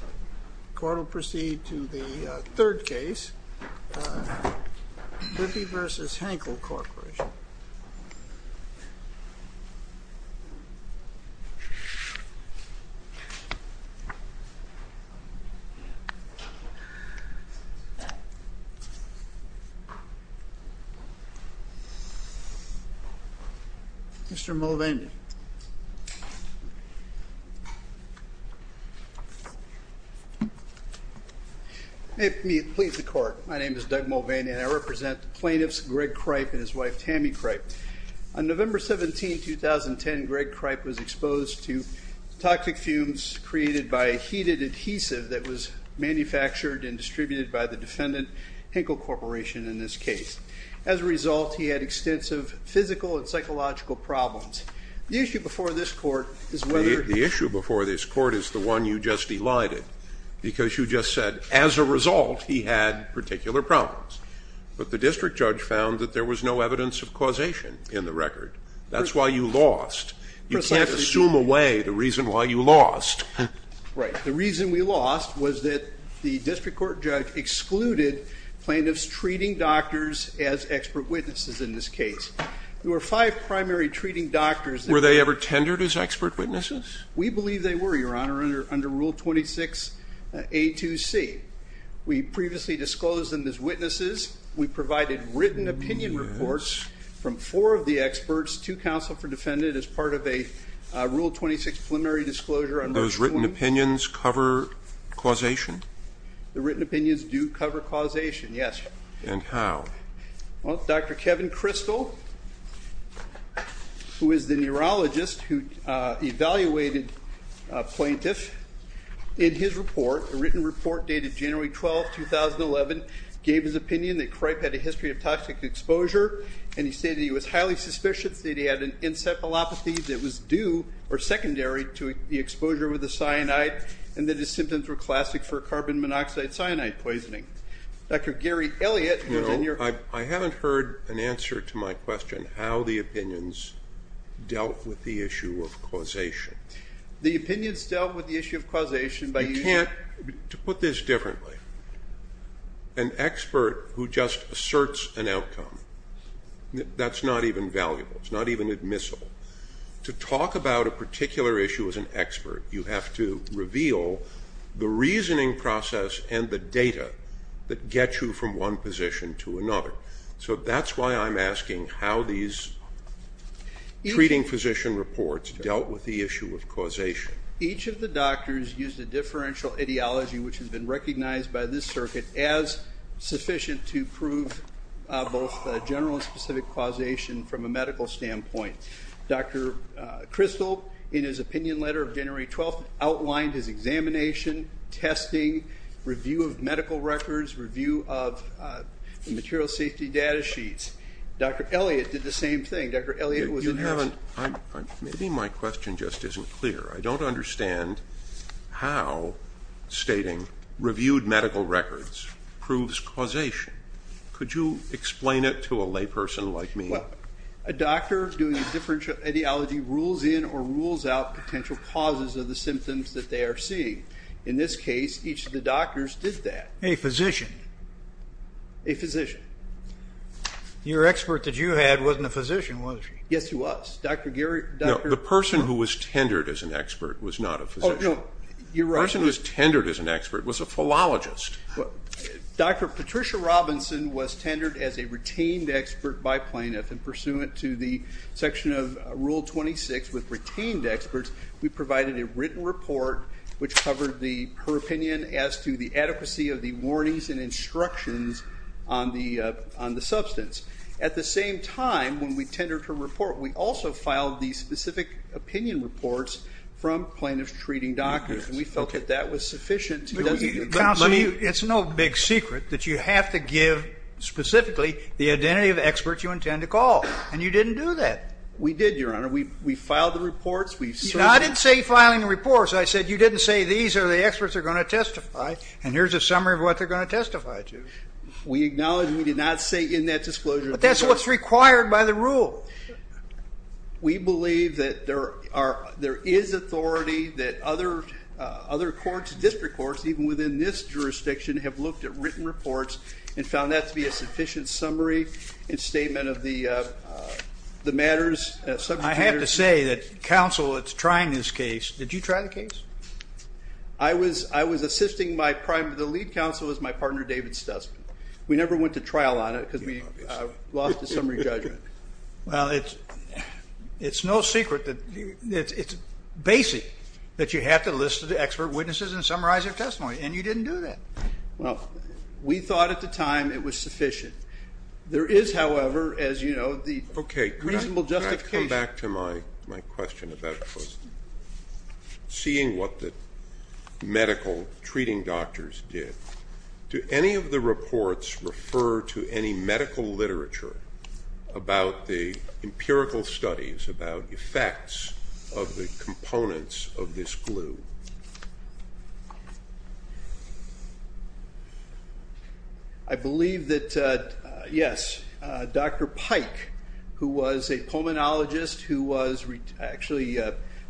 The court will proceed to the third case, Grippy v. Henkel Corporation. Mr. Mulvaney. May it please the Court. My name is Doug Mulvaney, and I represent the plaintiffs Greg Cripe and his wife Tammy Cripe. On November 17, 2010, Greg Cripe was exposed to toxic fumes created by a heated adhesive that was manufactured and distributed by the defendant, Henkel Corporation, in this case. As a result, he had extensive physical and psychological problems. The issue before this Court is whether because you just said, as a result, he had particular problems. But the district judge found that there was no evidence of causation in the record. That's why you lost. You can't assume away the reason why you lost. Right. The reason we lost was that the district court judge excluded plaintiffs treating doctors as expert witnesses in this case. There were five primary treating doctors. Were they ever tendered as expert witnesses? We believe they were, Your Honor, under Rule 26A.2.C. We previously disclosed them as witnesses. We provided written opinion reports from four of the experts to counsel for the defendant as part of a Rule 26 preliminary disclosure on Rule 26. Those written opinions cover causation? The written opinions do cover causation, yes. And how? Well, Dr. Kevin Crystal, who is the neurologist who evaluated a plaintiff, in his report, a written report dated January 12, 2011, gave his opinion that Cripe had a history of toxic exposure, and he stated he was highly suspicious that he had an inset myelopathy that was due or secondary to the exposure with the cyanide and that his symptoms were classic for carbon monoxide cyanide poisoning. Dr. Gary Elliott was in your... No, I haven't heard an answer to my question, how the opinions dealt with the issue of causation. The opinions dealt with the issue of causation by using... You can't put this differently. An expert who just asserts an outcome, that's not even valuable. It's not even admissible. To talk about a particular issue as an expert, you have to reveal the reasoning process and the data that get you from one position to another. So that's why I'm asking how these treating physician reports dealt with the issue of causation. Each of the doctors used a differential ideology, which has been recognized by this circuit, as sufficient to prove both general and specific causation from a medical standpoint. Dr. Kristol, in his opinion letter of January 12th, outlined his examination, testing, review of medical records, review of material safety data sheets. Dr. Elliott did the same thing. Dr. Elliott was in your... Maybe my question just isn't clear. I don't understand how stating reviewed medical records proves causation. Could you explain it to a layperson like me? Well, a doctor doing differential ideology rules in or rules out potential causes of the symptoms that they are seeing. In this case, each of the doctors did that. A physician? A physician. Your expert that you had wasn't a physician, was he? Yes, he was. The person who was tendered as an expert was not a physician. The person who was tendered as an expert was a philologist. Dr. Patricia Robinson was tendered as a retained expert by plaintiff, and pursuant to the section of Rule 26 with retained experts, we provided a written report which covered her opinion as to the adequacy of the warnings and instructions on the substance. At the same time, when we tendered her report, we also filed the specific opinion reports from plaintiff's treating doctors, and we felt that that was sufficient to... Counsel, it's no big secret that you have to give specifically the identity of experts you intend to call, and you didn't do that. We did, Your Honor. We filed the reports. I didn't say filing the reports. I said you didn't say these are the experts that are going to testify, and here's a summary of what they're going to testify to. We acknowledge we did not say in that disclosure... But that's what's required by the rule. We believe that there is authority that other courts, district courts, even within this jurisdiction, have looked at written reports and found that to be a sufficient summary and statement of the matters. I have to say that counsel is trying this case. Did you try the case? I was assisting the lead counsel as my partner, David Stussman. We never went to trial on it because we lost the summary judgment. Well, it's no secret that it's basic that you have to list the expert witnesses and summarize their testimony, and you didn't do that. Well, we thought at the time it was sufficient. There is, however, as you know, the reasonable justification. Okay, can I come back to my question about seeing what the medical treating doctors did? Do any of the reports refer to any medical literature about the empirical studies, about effects of the components of this glue? I believe that, yes, Dr. Pike, who was a pulmonologist who was actually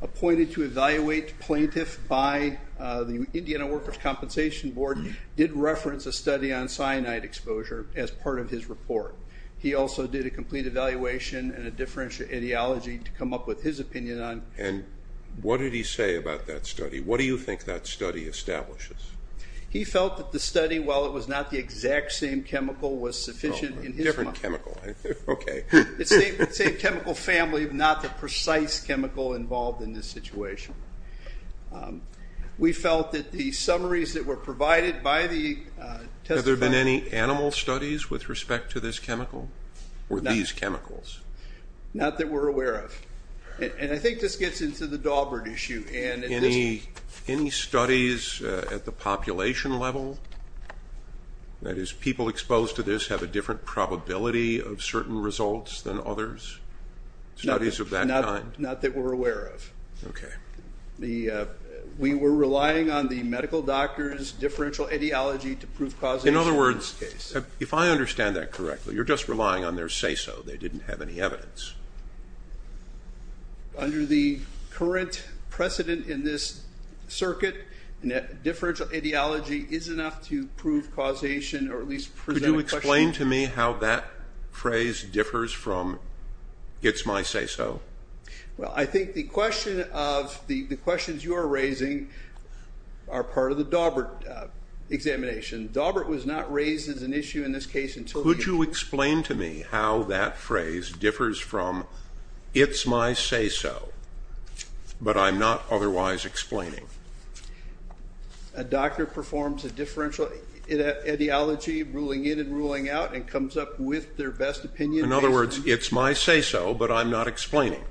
appointed to evaluate plaintiffs by the Indiana Workers' Compensation Board, did reference a study on cyanide exposure as part of his report. He also did a complete evaluation and a differential etiology to come up with his opinion on it. And what did he say about that study? What do you think that study establishes? He felt that the study, while it was not the exact same chemical, was sufficient in his mind. Different chemical, okay. It's the same chemical family, not the precise chemical involved in this situation. We felt that the summaries that were provided by the testifier Were there any animal studies with respect to this chemical? Or these chemicals? Not that we're aware of. And I think this gets into the Daubert issue. Any studies at the population level? That is, people exposed to this have a different probability of certain results than others? Studies of that kind? Not that we're aware of. Okay. We were relying on the medical doctors' differential etiology to prove causation in this case. In other words, if I understand that correctly, you're just relying on their say-so. They didn't have any evidence. Under the current precedent in this circuit, differential etiology is enough to prove causation or at least present a question. Could you explain to me how that phrase differs from it's my say-so? Well, I think the questions you are raising are part of the Daubert examination. Daubert was not raised as an issue in this case until you... Could you explain to me how that phrase differs from it's my say-so, but I'm not otherwise explaining? A doctor performs a differential etiology, ruling in and ruling out, and comes up with their best opinion... In other words, it's my say-so, but I'm not explaining.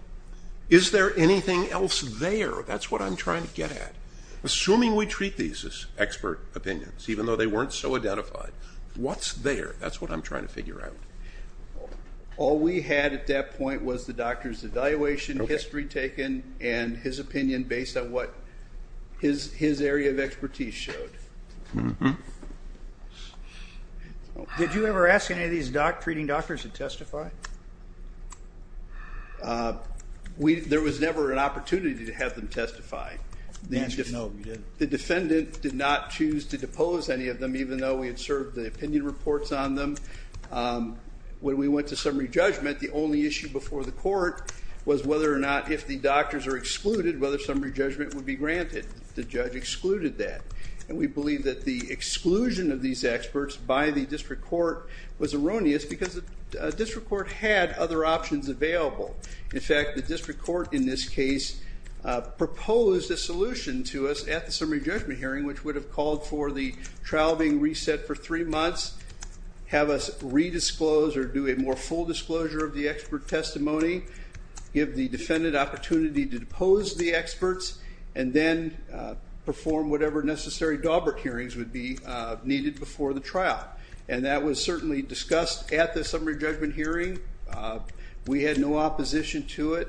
Is there anything else there? That's what I'm trying to get at. Assuming we treat these as expert opinions, even though they weren't so identified, what's there? That's what I'm trying to figure out. All we had at that point was the doctor's evaluation, history taken, and his opinion based on what his area of expertise showed. Did you ever ask any of these treating doctors to testify? There was never an opportunity to have them testify. The defendant did not choose to depose any of them, even though we had served the opinion reports on them. When we went to summary judgment, the only issue before the court was whether or not, if the doctors are excluded, whether summary judgment would be granted. The judge excluded that. And we believe that the exclusion of these experts by the district court was erroneous, because the district court had other options available. In fact, the district court in this case proposed a solution to us at the summary judgment hearing, which would have called for the trial being reset for three months, have us redisclose or do a more full disclosure of the expert testimony, give the defendant opportunity to depose the experts, would be needed before the trial. And that was certainly discussed at the summary judgment hearing. We had no opposition to it.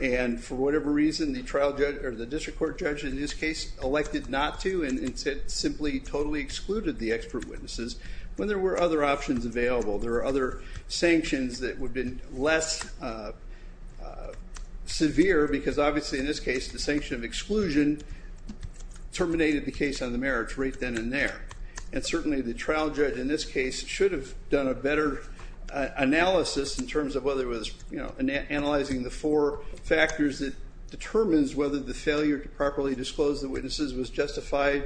And for whatever reason, the district court judge in this case elected not to and simply totally excluded the expert witnesses when there were other options available. There were other sanctions that would have been less severe, because obviously in this case the sanction of exclusion terminated the case on the merits right then and there. And certainly the trial judge in this case should have done a better analysis in terms of whether it was analyzing the four factors that determines whether the failure to properly disclose the witnesses was justified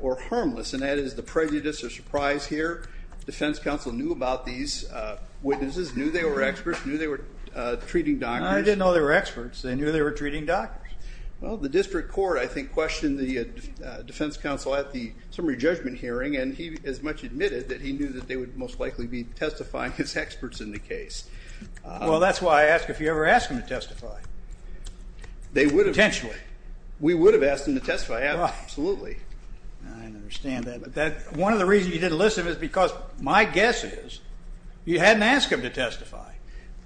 or harmless. And that is the prejudice or surprise here. Defense counsel knew about these witnesses, knew they were experts, knew they were treating doctors. I didn't know they were experts. They knew they were treating doctors. Well, the district court, I think, questioned the defense counsel at the summary judgment hearing, and he as much admitted that he knew that they would most likely be testifying as experts in the case. Well, that's why I ask if you ever ask them to testify. They would have. Potentially. We would have asked them to testify, absolutely. I understand that. But one of the reasons you didn't listen is because my guess is you hadn't asked them to testify.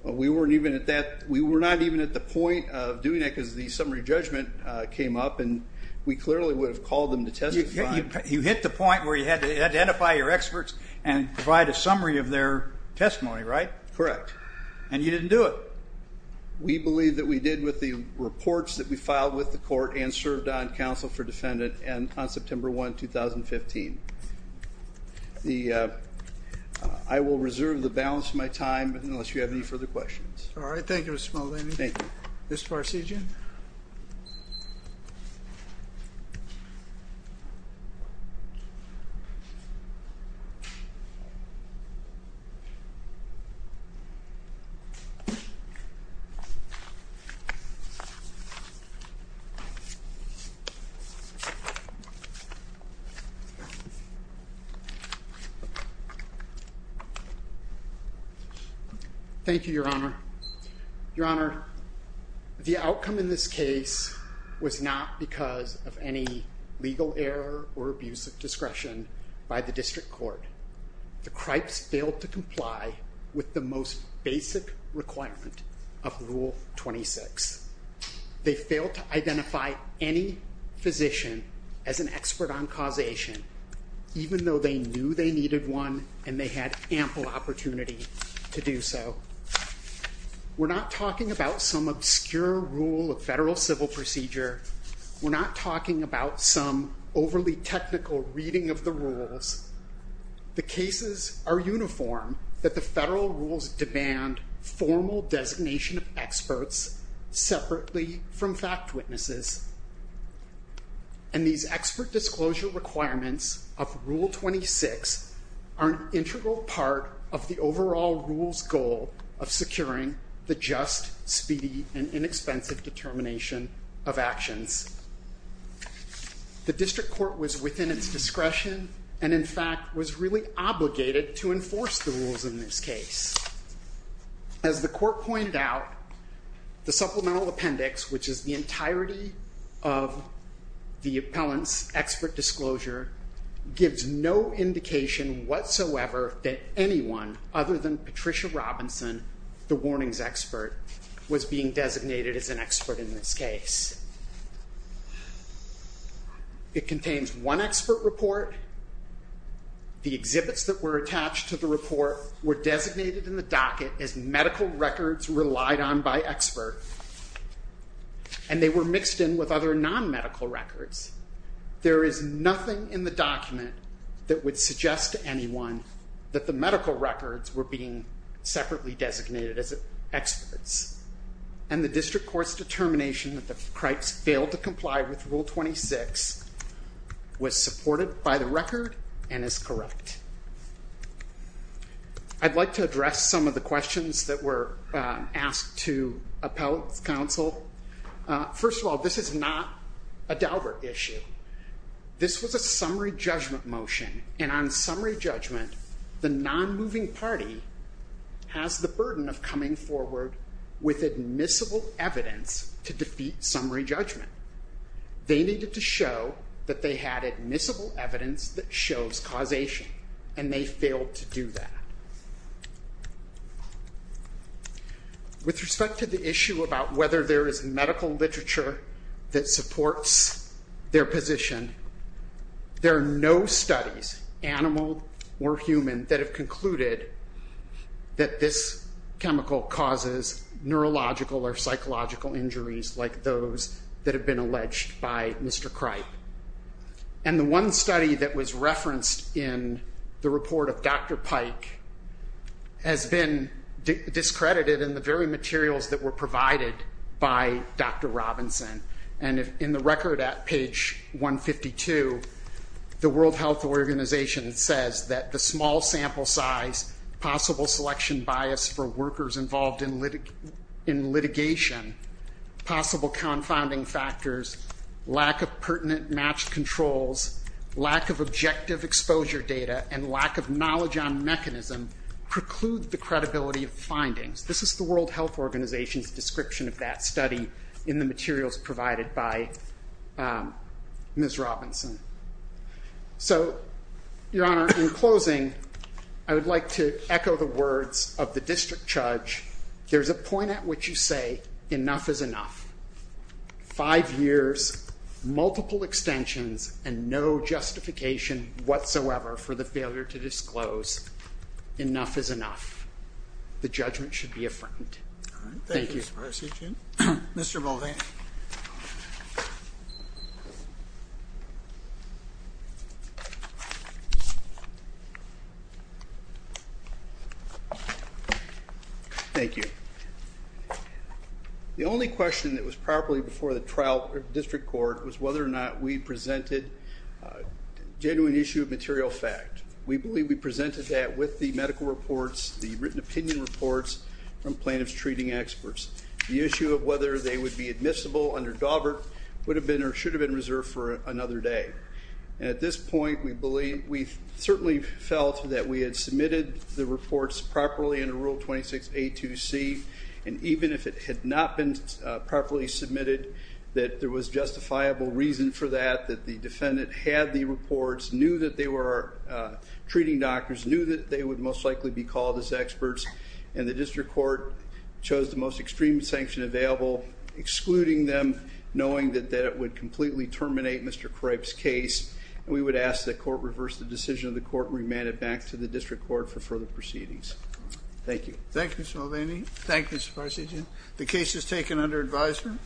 We weren't even at that. We were not even at the point of doing that because the summary judgment came up and we clearly would have called them to testify. You hit the point where you had to identify your experts and provide a summary of their testimony, right? Correct. And you didn't do it. We believe that we did with the reports that we filed with the court and served on counsel for defendant on September 1, 2015. I will reserve the balance of my time unless you have any further questions. All right. Thank you, Mr. Maldonado. Thank you. Mr. Farcigian. Thank you, Your Honor. Your Honor, the outcome in this case was not because of any legal error or abuse of discretion by the district court. The Kripes failed to comply with the most basic requirement of Rule 26. They failed to identify any physician as an expert on causation, even though they knew they needed one and they had ample opportunity to do so. We're not talking about some obscure rule of federal civil procedure. We're not talking about some overly technical reading of the rules. The cases are uniform that the federal rules demand formal designation of experts separately from fact witnesses. And these expert disclosure requirements of Rule 26 are an integral part of the overall rule's goal of securing the just, speedy, and inexpensive determination of actions. The district court was within its discretion and, in fact, was really obligated to enforce the rules in this case. As the court pointed out, the supplemental appendix, which is the entirety of the appellant's expert disclosure, gives no indication whatsoever that anyone other than Patricia Robinson, the warnings expert, was being designated as an expert in this case. It contains one expert report. The exhibits that were attached to the report were designated in the docket as medical records relied on by expert, and they were mixed in with other non-medical records. There is nothing in the document that would suggest to anyone that the medical records were being separately designated as experts. And the district court's determination that the Cripes failed to comply with Rule 26 was supported by the record and is correct. I'd like to address some of the questions that were asked to appellate counsel. First of all, this is not a Daubert issue. This was a summary judgment motion, and on summary judgment, the non-moving party has the burden of coming forward with admissible evidence to defeat summary judgment. They needed to show that they had admissible evidence that shows causation, and they failed to do that. With respect to the issue about whether there is a physician, there are no studies, animal or human, that have concluded that this chemical causes neurological or psychological injuries like those that have been alleged by Mr. Cripe. And the one study that was referenced in the report of Dr. Pike has been discredited in the very materials that were provided by Dr. Robinson. And in the record at page 152, the World Health Organization says that the small sample size, possible selection bias for workers involved in litigation, possible confounding factors, lack of pertinent matched controls, lack of objective exposure data, and lack of knowledge on mechanism preclude the credibility of findings. This is the World Health Organization's description of that study in the materials provided by Ms. Robinson. So, Your Honor, in closing, I would like to echo the words of the district judge. There's a point at which you say enough is enough. Five years, multiple extensions, and no justification whatsoever for the failure to disclose. Enough is enough. The judgment should be affirmed. Thank you. Mr. Mulvaney. Thank you. The only question that was properly before the district court was whether or not we presented a genuine issue of material fact. We believe we presented that with the medical reports, the written opinion reports from plaintiff's treating experts. The issue of whether they would be admissible under Daubert would have been or should have been reserved for another day. At this point, we certainly felt that we had submitted the reports properly under Rule 26A2C, and even if it had not been properly submitted, that there was justifiable reason for that, that the defendant had the reports, knew that they were treating doctors, knew that they would most likely be called as experts, and the district court chose the most extreme sanction available, excluding them, knowing that that would completely terminate Mr. Kruip's case. We would ask that court reverse the decision of the court and remand it back to the district court for further proceedings. Thank you. Thank you, Mr. Mulvaney. Thank you, Mr. Parsegian. The case is taken under advisement.